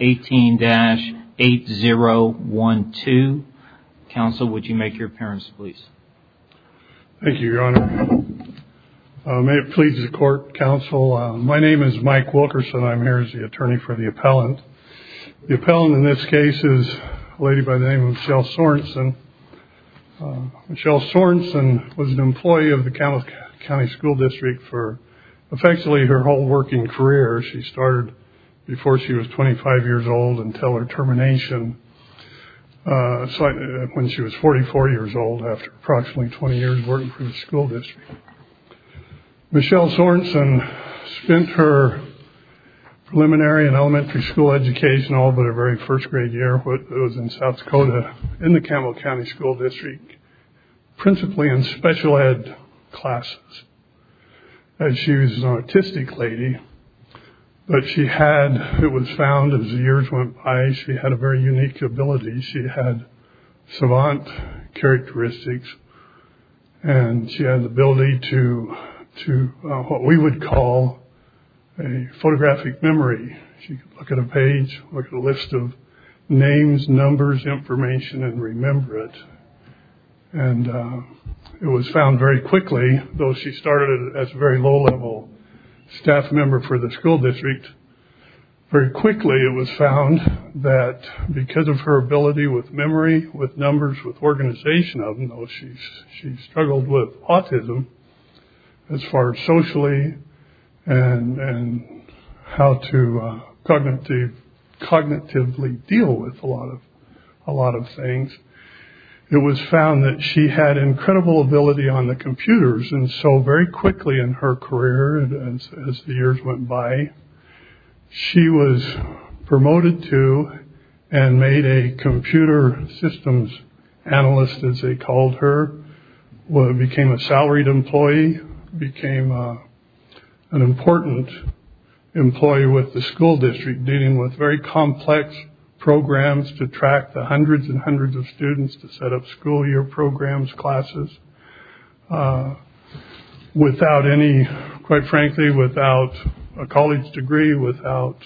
18-8012. Counsel, would you make your appearance, please? Thank you, Your Honor. May it please the Court, Counsel, my name is Mike Wilkerson. I'm here as the attorney for the appellant. The appellant in this case is a lady by the name of Michelle Sorenson. Michelle Sorenson was an employee of the Campbell County School District for effectively her whole working career. She started before she was 25 years old until her termination when she was 44 years old after approximately 20 years working for the school district. Michelle Sorenson spent her preliminary and elementary school education all but her very first grade year was in South Dakota in the Campbell County School District principally in special ed classes. She was an artistic lady, but she had, it was found as the years went by, she had a very unique ability. She had savant characteristics and she had the ability to do what we would call a photographic memory. She could look at a page, look at a list of names, numbers, information, and it was found very quickly, though she started as a very low-level staff member for the school district, very quickly it was found that because of her ability with memory, with numbers, with organization of them, though she struggled with autism as far as socially and how to cognitively deal with a lot of things, it was found that she had incredible ability on the computers and so very quickly in her career and as the years went by she was promoted to and made a computer systems analyst as they called her, became a salaried employee, became an important employee with the school district dealing with complex programs to track the hundreds and hundreds of students to set up school year programs, classes, without any, quite frankly, without a college degree, without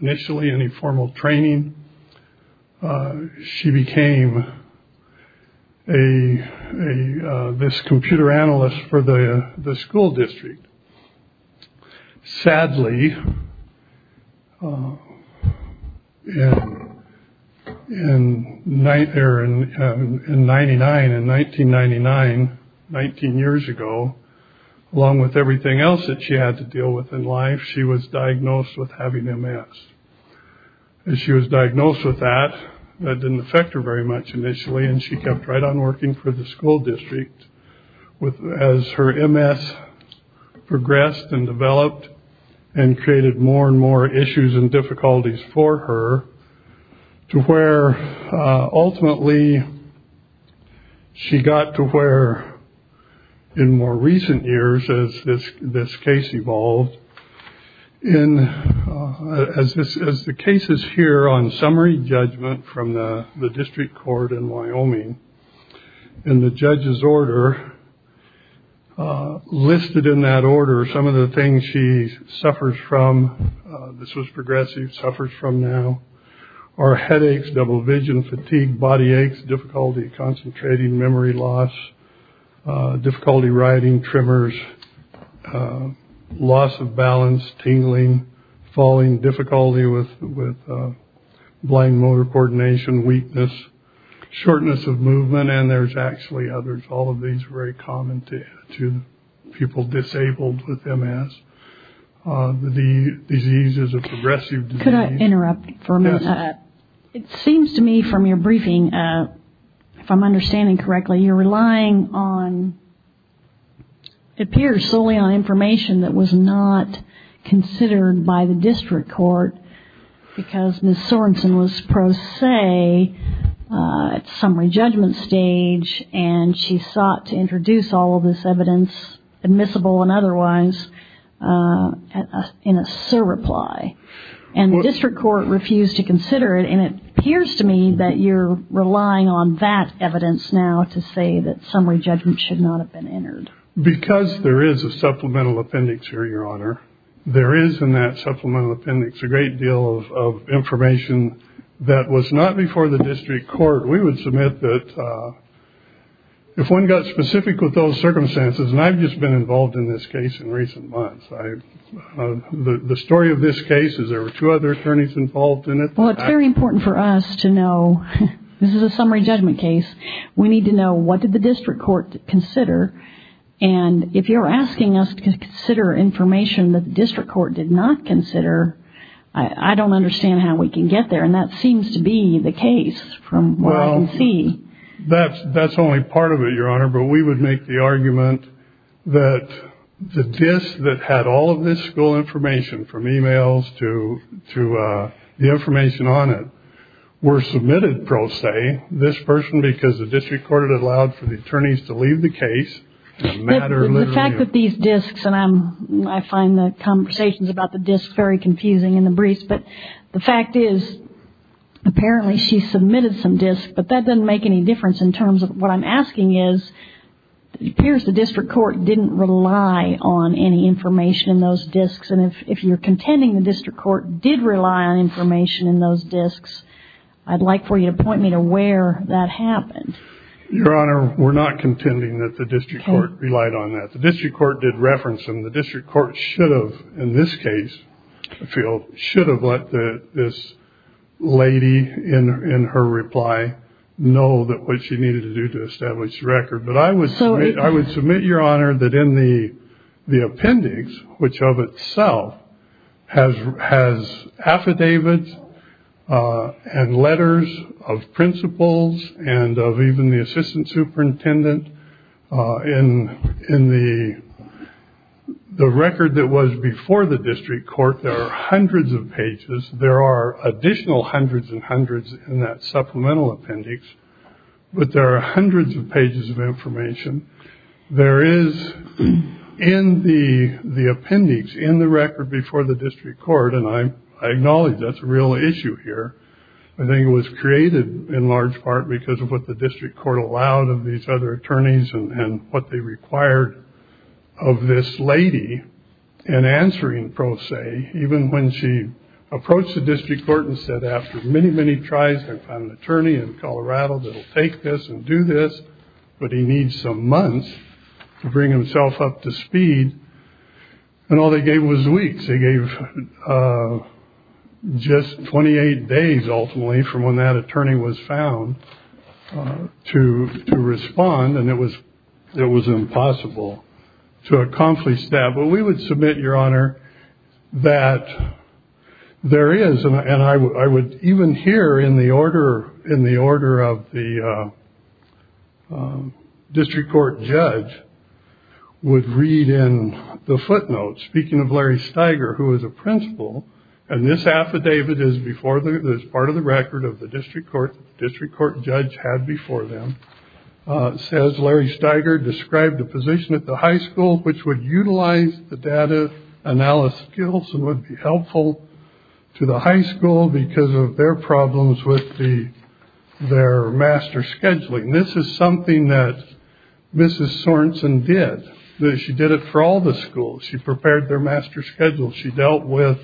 initially any formal training, she became this computer analyst for the school district. Sadly, in 1999, 19 years ago, along with everything else that she had to deal with in life, she was diagnosed with having MS. She was diagnosed with that, that didn't affect her very much initially, and she kept right on working for the school district with, as her MS progressed and developed and created more and more issues and difficulties for her, to where ultimately she got to where in more recent years, as this this case evolved, in, as this, as the cases here on summary judgment from the district court in the judge's order, listed in that order some of the things she suffers from, this was progressive, suffers from now, are headaches, double vision, fatigue, body aches, difficulty concentrating, memory loss, difficulty writing, tremors, loss of balance, tingling, falling, difficulty with with blind motor coordination, weakness, shortness of movement, and there's actually others. All of these are very common to people disabled with MS. The disease is a progressive disease. Could I interrupt for a minute? Yes. It seems to me from your briefing, if I'm understanding correctly, you're relying on, it appears solely on information that was not considered by the district court, because Ms. Sorensen was pro se at summary judgment stage, and she sought to introduce all of this evidence, admissible and otherwise, in a surreply, and the district court refused to consider it, and it appears to me that you're relying on that evidence now to say that summary judgment should not have been entered. Because there is a great deal of information that was not before the district court. We would submit that if one got specific with those circumstances, and I've just been involved in this case in recent months, the story of this case is there were two other attorneys involved in it. Well, it's very important for us to know, this is a summary judgment case, we need to know what did the district court consider, and if you're asking us to consider information that the district court did not consider, I don't understand how we can get there, and that seems to be the case from what I can see. Well, that's only part of it, Your Honor, but we would make the argument that the disk that had all of this school information, from emails to the information on it, were submitted pro se, this person, because the fact that these disks, and I find the conversations about the disks very confusing in the briefs, but the fact is, apparently she submitted some disks, but that doesn't make any difference in terms of what I'm asking is, it appears the district court didn't rely on any information in those disks, and if you're contending the district court did rely on information in those disks, I'd like for you to point me to where that happened. Your Honor, we're not contending that the district court relied on that. The district court did reference them. The district court should have, in this case, I feel, should have let this lady in her reply know that what she needed to do to establish the record, but I would submit, I would submit, Your Honor, that in the appendix, which of itself has affidavits and letters of principals and of even the assistant superintendent, in the record that was before the district court, there are hundreds of pages. There are additional hundreds and hundreds in that supplemental appendix, but there are hundreds of pages of information. There is, in the appendix, in the record before the district court, and I acknowledge that's a real issue here, I think it was created in large part because of what the district court allowed of these other attorneys and what they required of this lady in answering pro se, even when she approached the district court and said, after many, many tries, I found an attorney in Colorado that'll take this and do this, but he needs some months to bring himself up to speed, and all they gave was weeks. They gave just 28 days, ultimately, from when that attorney was found to respond, and it was impossible to accomplish that, but we would submit, Your Honor, that there is, and I would even here, in the order of the district court judge, would read in the footnotes, speaking of Larry Steiger, who is a principal, and this affidavit is part of the record of the district court, the district court judge had before them, says Larry Steiger described a position at the high school which would utilize the data analysis skills and would be helpful to the high school because of their problems with their master scheduling. This is something that Mrs. Sorenson did. She did it for all the schools. She prepared their master schedules. She dealt with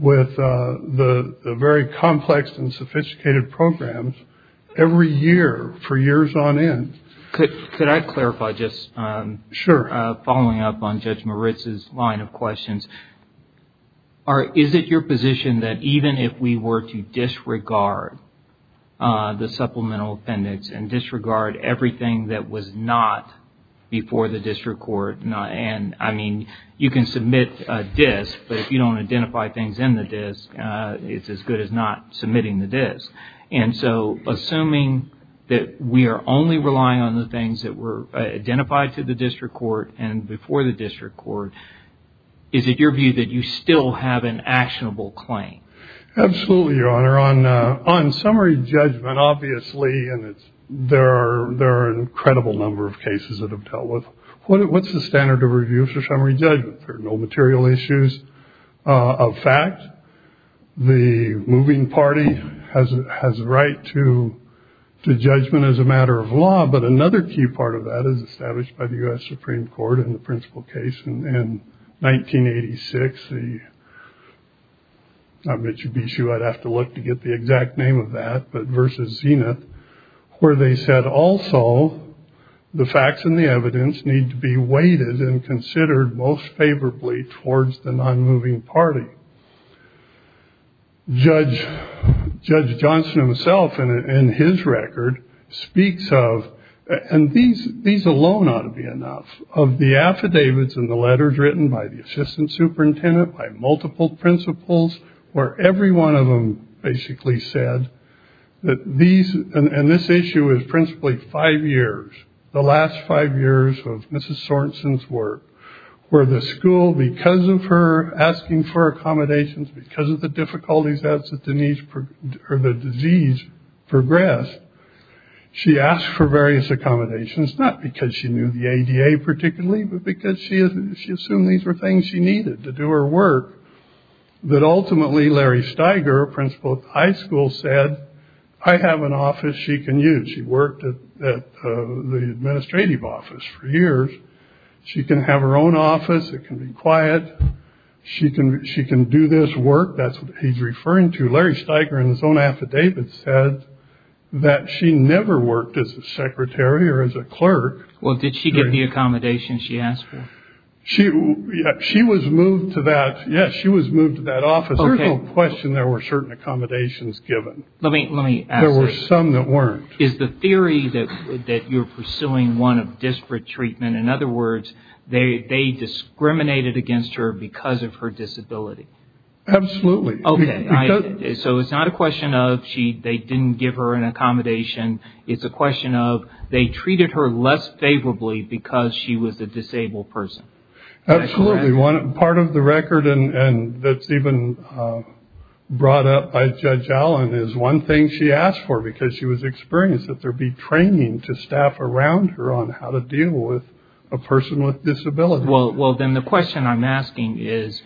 the very complex and sophisticated programs every year for years on end. Could I clarify, just following up on Judge Moritz's line of questions, is it your position that even if we were to disregard the supplemental appendix and you can submit a disk, but if you don't identify things in the disk, it's as good as not submitting the disk, and so assuming that we are only relying on the things that were identified to the district court and before the district court, is it your view that you still have an actionable claim? Absolutely, Your Honor. On summary judgment, obviously, and there are an incredible number of cases that have dealt with, what's the standard of use for summary judgment? There are no material issues of fact. The moving party has a right to the judgment as a matter of law, but another key part of that is established by the U.S. Supreme Court in the principal case in 1986. I bet you'd be sure I'd have to look to get the exact name of that, but versus Zenith, where they said also the facts and the evidence need to be considered most favorably towards the non-moving party. Judge Johnson himself, in his record, speaks of, and these alone ought to be enough, of the affidavits and the letters written by the assistant superintendent, by multiple principals, where every one of them basically said that these, and this issue is principally five years, the last five years of Mrs. Sorenson's work, where the school, because of her asking for accommodations, because of the difficulties as the disease progressed, she asked for various accommodations, not because she knew the ADA particularly, but because she assumed these were things she needed to do her work, that ultimately Larry Steiger, a She worked at the administrative office for years. She can have her own office. It can be quiet. She can do this work. That's what he's referring to. Larry Steiger, in his own affidavit, said that she never worked as a secretary or as a clerk. Well, did she get the accommodations she asked for? She was moved to that. Yes, she was moved to that office. There's no question there were certain accommodations given. Let me ask you. There were some that weren't. Is the theory that you're pursuing one of disparate treatment, in other words, they discriminated against her because of her disability? Absolutely. Okay. So it's not a question of they didn't give her an accommodation. It's a question of they treated her less favorably because she was a disabled person. Absolutely. Part of the record and that's even brought up by Judge Allen is one thing she asked for because she was experienced that there be training to staff around her on how to deal with a person with disability. Well, then the question I'm asking is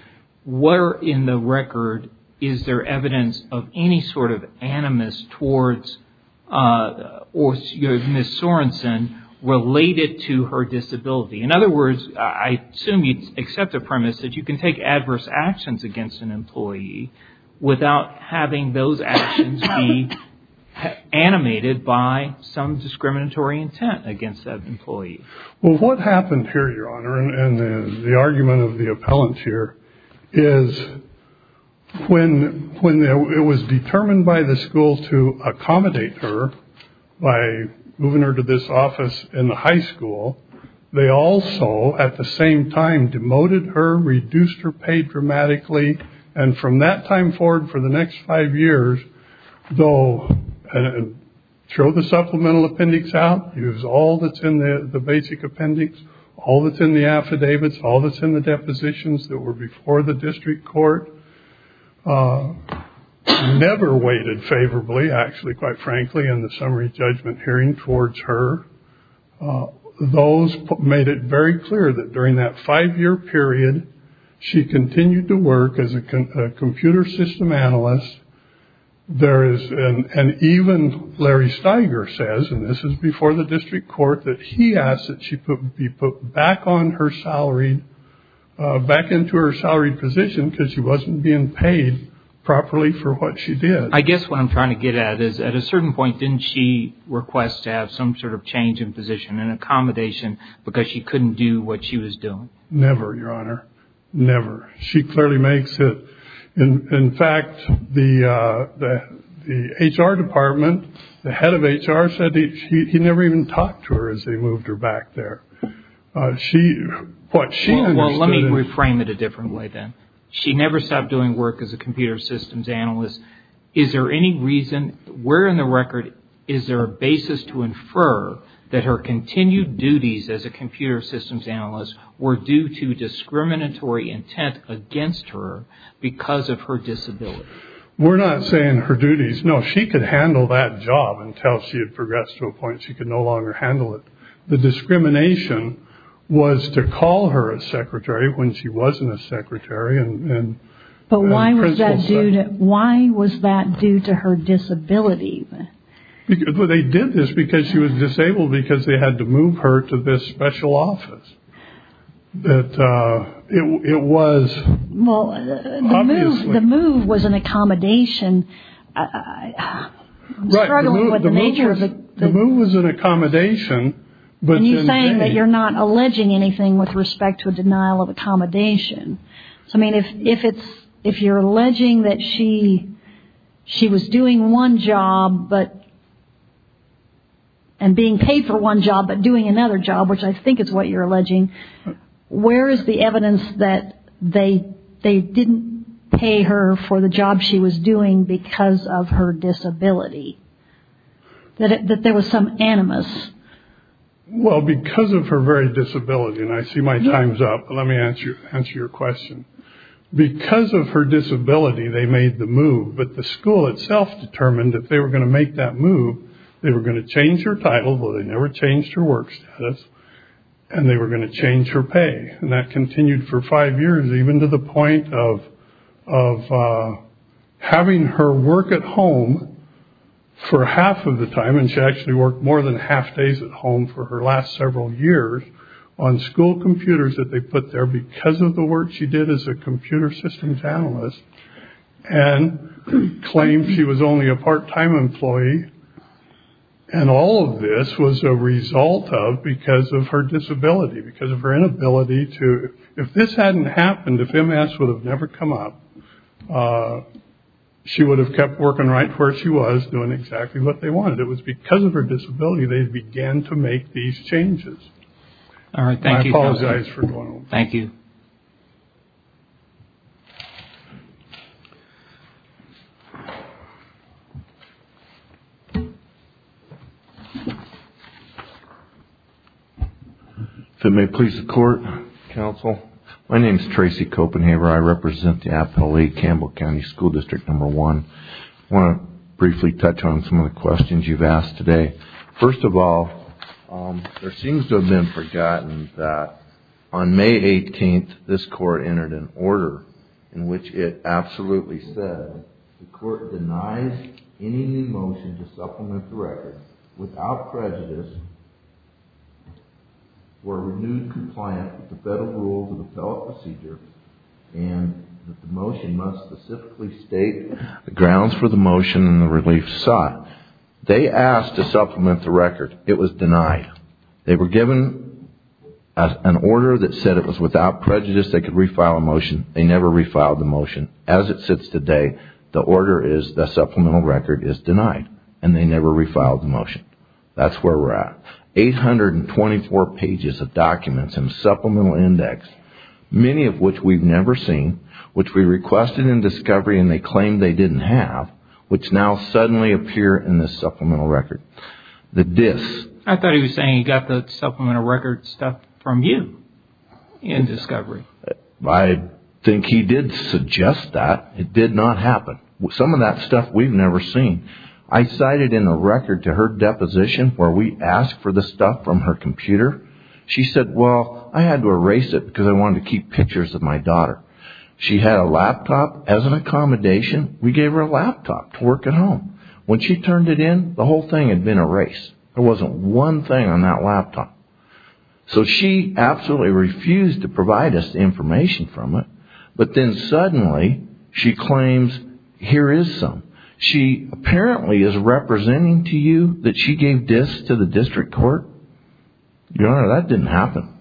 where in the record is there evidence of any sort of animus towards Ms. Sorensen related to her disability? In other words, I assume you'd accept a person to take adverse actions against an employee without having those actions be animated by some discriminatory intent against that employee. Well, what happened here, Your Honor, and the argument of the appellant here is when it was determined by the school to accommodate her by moving her to this paid dramatically, and from that time forward for the next five years, though, throw the supplemental appendix out, use all that's in the basic appendix, all that's in the affidavits, all that's in the depositions that were before the district court, never waited favorably, actually, quite frankly, in the summary judgment hearing towards her. Those made it very clear that during that five-year period, she continued to work as a computer system analyst. There is, and even Larry Steiger says, and this is before the district court, that he asked that she be put back on her salary, back into her salary position, because she wasn't being paid properly for what she did. I guess what I'm trying to get at is, at a certain point, didn't she request to have some sort of change in salary, Your Honor? Never. She clearly makes it, in fact, the HR department, the head of HR said he never even talked to her as they moved her back there. She, what she understood... Well, let me reframe it a different way, then. She never stopped doing work as a computer systems analyst. Is there any reason, where in the record is there a basis to infer that her continued duties as a computer systems analyst were due to discriminatory intent against her because of her disability? We're not saying her duties. No, she could handle that job until she had progressed to a point she could no longer handle it. The discrimination was to call her a secretary when she wasn't a secretary. But why was that due to her disability? Well, they did this because she was disabled, because they had to But it was... Well, the move was an accommodation. I'm struggling with the nature of it. The move was an accommodation, but... And you're saying that you're not alleging anything with respect to a denial of accommodation. So, I mean, if you're alleging that she was doing one job, and being paid for one job, but doing another job, which I So, where is the evidence that they didn't pay her for the job she was doing because of her disability? That there was some animus? Well, because of her very disability, and I see my time's up, let me answer your question. Because of her disability, they made the move, but the school itself determined that they were going to make that move. They were going to change her title, though they never changed her work status, and they were going to change her pay. And that continued for five years, even to the point of having her work at home for half of the time, and she actually worked more than half days at home for her last several years, on school computers that they put there because of the work she did as a computer systems analyst, and claimed she was only a part-time employee, and all of this was a result of because of her disability, because of her inability to, if this hadn't happened, if MS would have never come up, she would have kept working right where she was, doing exactly what they wanted. It was because of her disability they began to work. If it may please the court, counsel, my name is Tracy Copenhaver. I represent the Appalachia Campbell County School District Number One. I want to briefly touch on some of the questions you've asked today. First of all, there seems to have been forgotten that on the first day, the court denies any new motion to supplement the record without prejudice for a renewed compliance with the Federal Rules of Appellate Procedure, and that the motion must specifically state the grounds for the motion and the relief sought. They asked to supplement the record. It was denied. They were given an order that said it was without prejudice they could refile a motion. They never refiled the motion. As it sits today, the order is the supplemental record is denied, and they never refiled the motion. That's where we're at. Eight hundred and twenty-four pages of documents and supplemental index, many of which we've never seen, which we requested in discovery and they claimed they didn't have, which now suddenly appear in the supplemental record. The dis... I thought he was saying he got the supplemental record stuff from you in discovery. I think he did suggest that. It did not happen. Some of that stuff we've never seen. I cited in the record to her deposition where we asked for the stuff from her computer. She said, well, I had to erase it because I wanted to keep pictures of my daughter. She had a laptop as an accommodation. We gave her a laptop to work at home. When she turned it in, the whole thing had been erased. There wasn't one thing on that laptop. So she absolutely refused to provide us the information from it, but then suddenly she claims here is some. She apparently is representing to you that she gave dis to the district court. Your Honor, that didn't happen.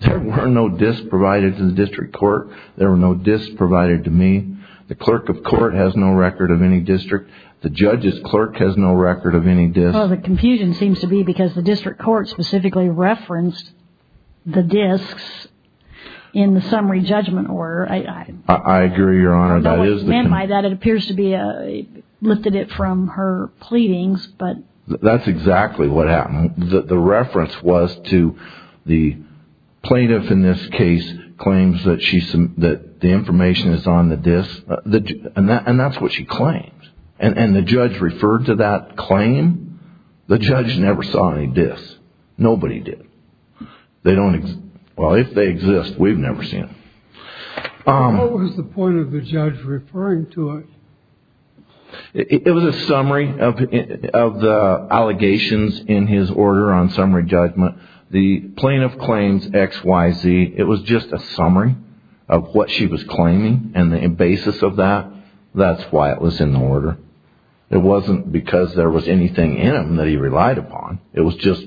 There were no dis provided to the district court. There were no dis provided to me. The clerk of any dis... The confusion seems to be because the district court specifically referenced the dis in the summary judgment order. I agree, Your Honor. That is the... It appears to be a lifted it from her pleadings, but... That's exactly what happened. The reference was to the plaintiff in this case claims that she said that the information is on the dis. And that's what she claims. And the judge referred to that claim. The judge never saw any dis. Nobody did. They don't... Well, if they exist, we've never seen them. What was the point of the judge referring to it? It was a summary of the allegations in his order on summary judgment. The plaintiff claims X, Y, Z. It was just a summary of what she was claiming. And the basis of that, that's why it was in the order. It wasn't because there was anything in it that he relied upon. It was just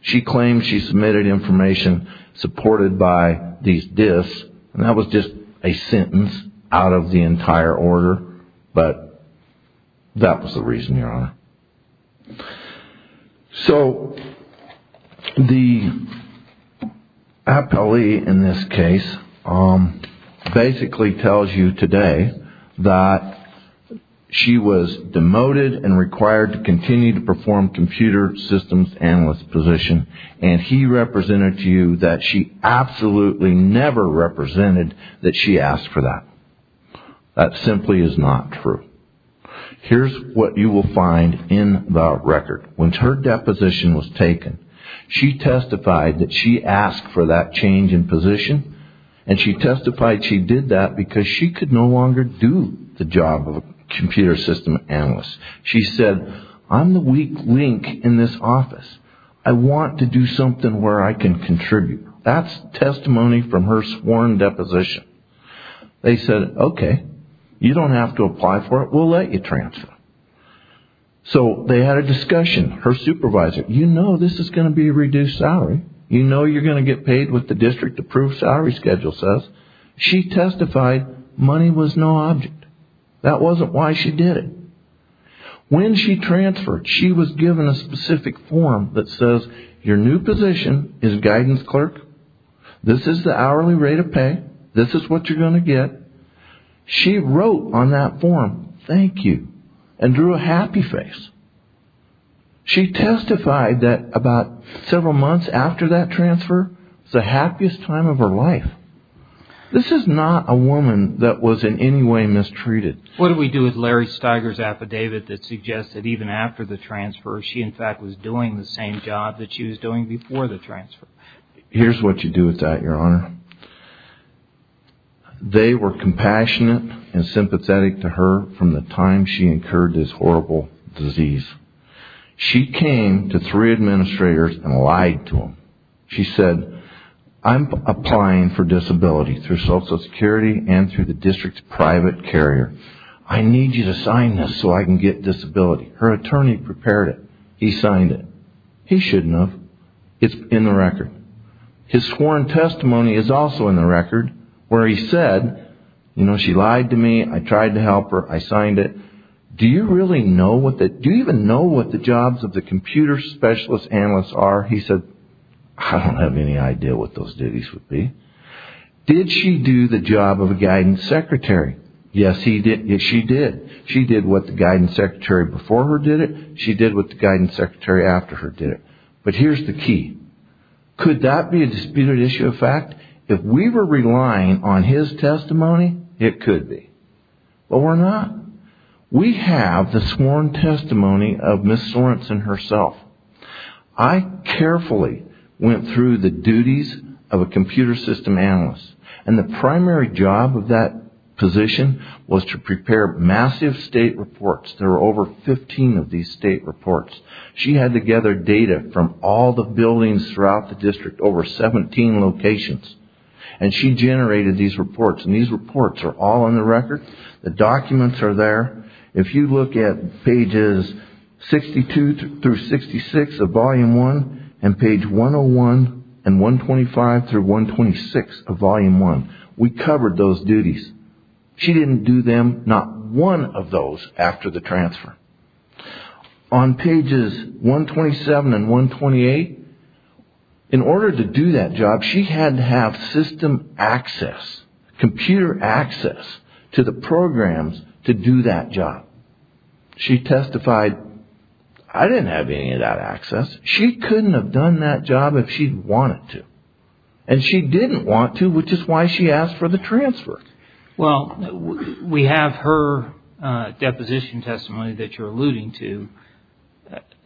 she claimed she submitted information supported by these dis. And that was just a sentence out of the entire order. But that was the reason, Your Honor. So the appellee in this case basically tells you today that she was demoted and required to continue to perform computer systems analyst position. And he represented to you that she absolutely never represented that she asked for that. That simply is not true. Here's what you will find in the record. When her deposition was taken, she testified that she asked for that change in position. And she testified she did that because she could no longer do the job of a computer system analyst. She said, I'm the weak link in this office. I want to do something where I can contribute. That's testimony from her sworn deposition. They said, okay, you don't have to apply for it. We'll let you transfer. So they had a discussion. Her answer was, this is going to be a reduced salary. You know you're going to get paid with the district approved salary schedule. She testified money was no object. That wasn't why she did it. When she transferred, she was given a specific form that says your new position is guidance clerk. This is the hourly rate of pay. This is what you're going to get. She wrote on that form, thank you, and drew a happy face. She testified that about several months after that transfer, the happiest time of her life. This is not a woman that was in any way mistreated. What do we do with Larry Steiger's affidavit that suggests that even after the transfer, she in fact was doing the same job that she was doing before the transfer? Here's what you do with that, your honor. They were compassionate and sympathetic to her from the time she incurred this horrible disease. She came to three administrators and lied to them. She said, I'm applying for disability through Social Security and through the district's private carrier. I need you to sign this so I can get disability. Her attorney prepared it. He signed it. He shouldn't have. It's in the record. His sworn testimony is also in the record where he said, she lied to me. I tried to help her. I signed it. Do you really know what the jobs of the computer specialist analysts are? He said, I don't have any idea what those duties would be. Did she do the job of a guidance secretary? Yes, she did. She did what the guidance secretary before her did it. She did what the guidance secretary after her did it. But here's the key. Could that be a disputed issue of fact? If we were relying on his testimony, it could be. But we're not. We have the sworn testimony of Ms. Sorenson herself. I carefully went through the duties of a computer system analyst. The primary job of that position was to prepare massive state reports. There were over 15 locations throughout the district, over 17 locations. She generated these reports. These reports are all in the record. The documents are there. If you look at pages 62 through 66 of volume one and page 101 and 125 through 126 of volume one, we covered those duties. She didn't do them, not one of those, after the transfer. On pages 127 and 128, in order to do that job, she had to have system access, computer access to the programs to do that job. She testified, I didn't have any of that access. She couldn't have done that job if she'd wanted to. And she didn't want to, which is why she asked for the transfer. Well, we have her deposition testimony that you're alluding to.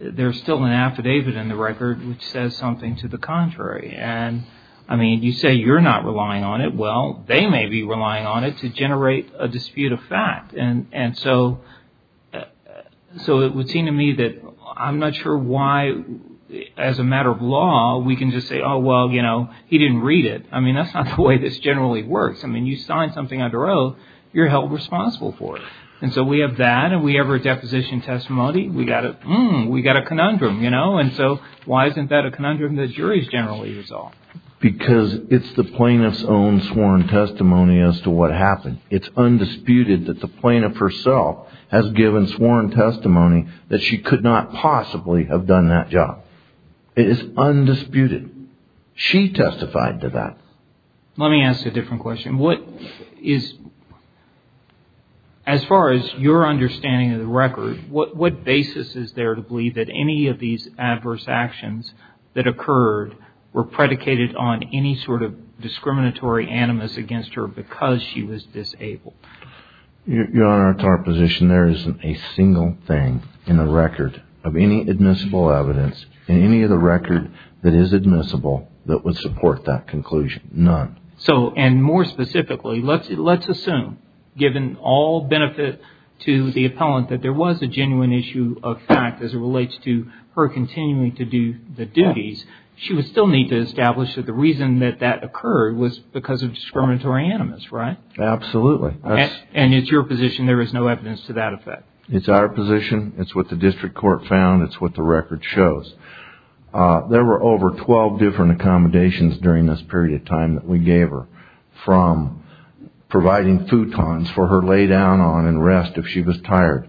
There's still an affidavit in the record which says something to the contrary. And I mean, you say you're not relying on it. Well, they may be relying on it to generate a dispute of fact. And so it would seem to me that I'm not sure why, as a matter of law, we can just say, oh, well, you know, he didn't read it. I mean, that's not the way this generally works. I mean, you sign something under oath, you're held responsible for it. And so we have that, and we have her deposition testimony. We got a conundrum, you know? And so why isn't that a conundrum that juries generally resolve? Because it's the plaintiff's own sworn testimony as to what happened. It's undisputed that the plaintiff herself has given sworn testimony that she could not possibly have done that job. It is undisputed. She testified to that. Let me ask a different question. What is, as far as your understanding of the record, what basis is there to believe that any of these adverse actions that occurred were predicated on any sort of discriminatory animus against her because she was disabled? Your Honor, at our position, there isn't a single thing in the record of any admissible evidence in any of the record that is admissible that would support that conclusion. None. So, and more specifically, let's assume, given all benefit to the appellant, that there was a genuine issue of fact as it relates to her continuing to do the duties, she would still need to establish that the reason that that occurred was because of discriminatory animus, right? Absolutely. And it's your position there is no evidence to that effect? It's our position. It's what the district court found. It's what the record shows. There were over 12 different accommodations during this period of time that we gave her, from providing futons for her lay down on and rest if she was tired.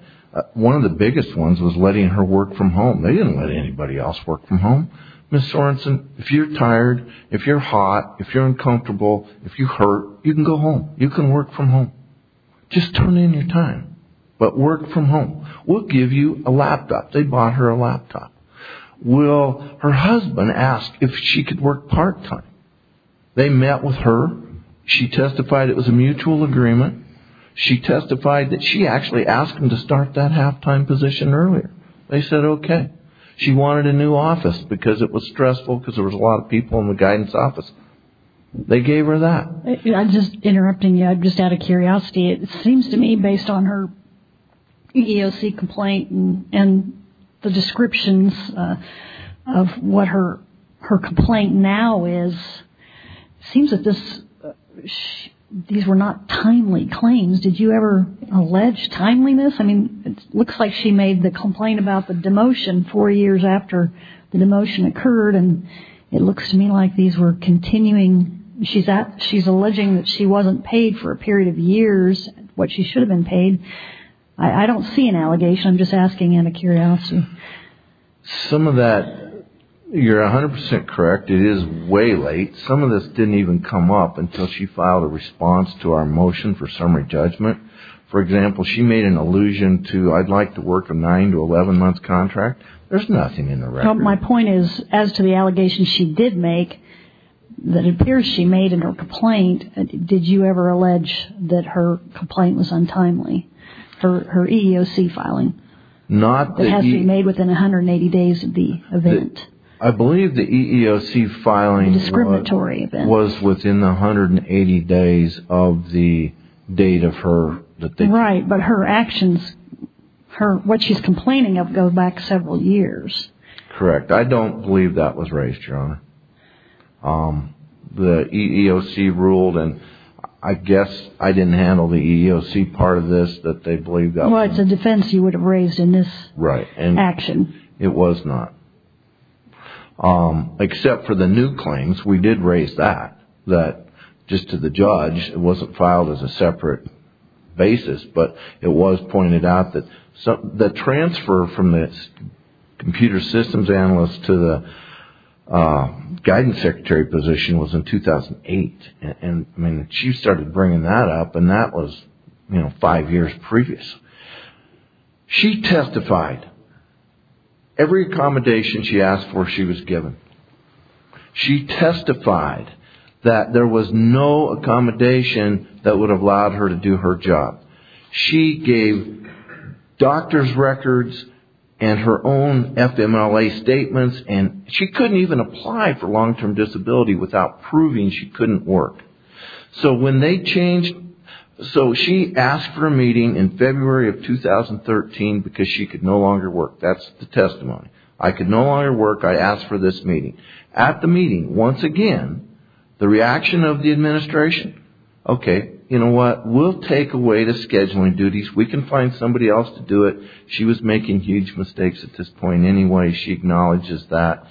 One of the biggest ones was letting her work from home. They didn't let anybody else work from home. Ms. Sorensen, if you're tired, if you're hot, if you're uncomfortable, if you hurt, you can go home. You can work from home. Just turn in your time. But work from home. We'll give you a laptop. They bought her a laptop. Will her husband ask if she could work part time? They met with her. She testified it was a mutual agreement. She testified that she actually asked him to start that halftime position earlier. They said, OK. She wanted a new office because it was stressful because there was a lot of people in the guidance office. They gave her that. I'm just interrupting you. I'm just out of curiosity. It seems to me, based on her EEOC complaint and the descriptions of what her complaint now is, it seems that these were not timely claims. Did you ever allege timeliness? I mean, it looks like she made the complaint about the demotion four years after the demotion occurred. And it looks to me like these were continuing. She's alleging that she wasn't paid for a period of years what she should have been paid. I don't see an allegation. I'm just asking out of curiosity. Some of that. You're 100 percent correct. It is way late. Some of this didn't even come up until she filed a response to our motion for summary judgment. For example, she made an allusion to I'd like to work a nine to 11 month contract. There's nothing in the record. My point is, as to the allegations she did make, that appears she made in her complaint. Did you ever allege that her complaint was untimely for her EEOC filing? Not that has been made within one hundred and eighty days of the event. I believe the EEOC filing discriminatory was within one hundred and eighty days of the date of her right. But her actions, her what she's complaining of, go back several years. Correct. I don't believe that was raised, Your Honor. The EEOC ruled, and I guess I didn't handle the EEOC part of this, that they believe that. Well, it's a defense you would have raised in this action. It was not. Except for the new claims, we did raise that, that just to the judge, it wasn't filed as a separate basis. But it was pointed out that the transfer from the computer systems analyst to the guidance secretary position was in 2008. And I mean, she started bringing that up and that was, you know, five years previous. She testified every accommodation she asked for, she was given. She testified that there was no accommodation that would have allowed her to do her job. She gave doctor's records and her own FMLA statements. And she couldn't even apply for long term disability without proving she couldn't work. So when they changed, so she asked for a meeting in February of 2013 because she could no longer work. That's the testimony. I could no longer work. I asked for this meeting. At the meeting, once again, the reaction of the administration, OK, you know what? We'll take away the scheduling duties. We can find somebody else to do it. She was making huge mistakes at this point. Anyway, she acknowledges that.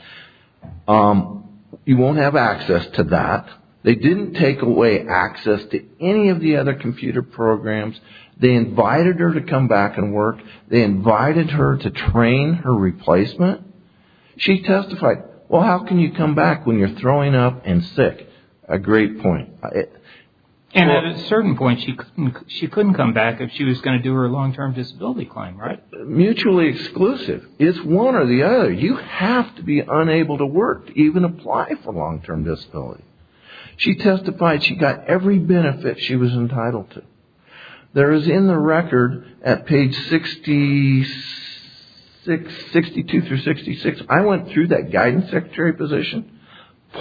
You won't have access to that. They didn't take away access to any of the other computer programs. They invited her to come back and work. They invited her to train her replacement. She testified, well, how can you come back when you're throwing up and sick? A great point. And at a certain point, she couldn't come back if she was going to do her long term disability claim, right? Mutually exclusive. It's one or the other. You have to be unable to work, even apply for long term disability. She testified she got every benefit she was entitled to. There is in the record at page 62 through 66, I went through that guidance secretary position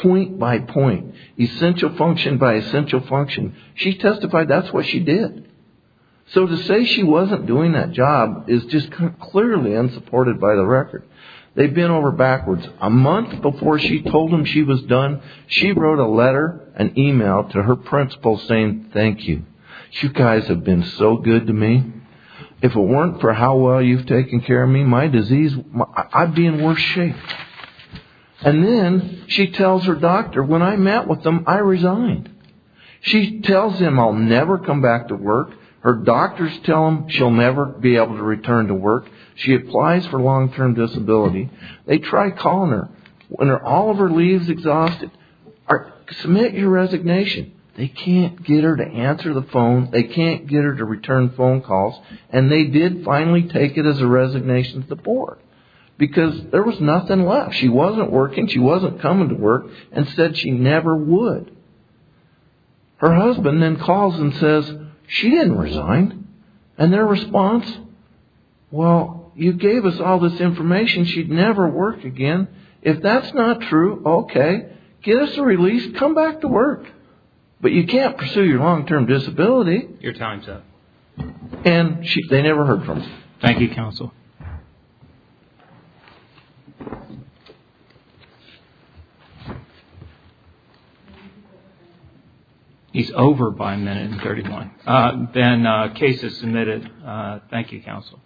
point by point, essential function by essential function. She testified that's what she did. So to say she wasn't doing that job is just clearly unsupported by the record. They've been over backwards a month before she told him she was done. She wrote a letter, an email to her principal saying, thank you. You guys have been so good to me. If it weren't for how well you've taken care of me, my disease, I'd be in worse shape. And then she tells her doctor, when I met with them, I resigned. She tells him I'll never come back to work. Her doctors tell him she'll never be able to return to work. She applies for long term disability. They try calling her when all of her leaves exhausted. Submit your resignation. They can't get her to answer the phone. They can't get her to return phone calls. And they did finally take it as a resignation to the board because there was nothing left. She wasn't working. She wasn't coming to work and said she never would. Her husband then calls and says she didn't resign. And their response. Well, you gave us all this information. She'd never work again. If that's not true, OK, get us a release. Come back to work. But you can't pursue your long term disability. Your time's up. And they never heard from him. Thank you, counsel. He's over by a minute and thirty one. Then case is submitted. Thank you, counsel. Thank you.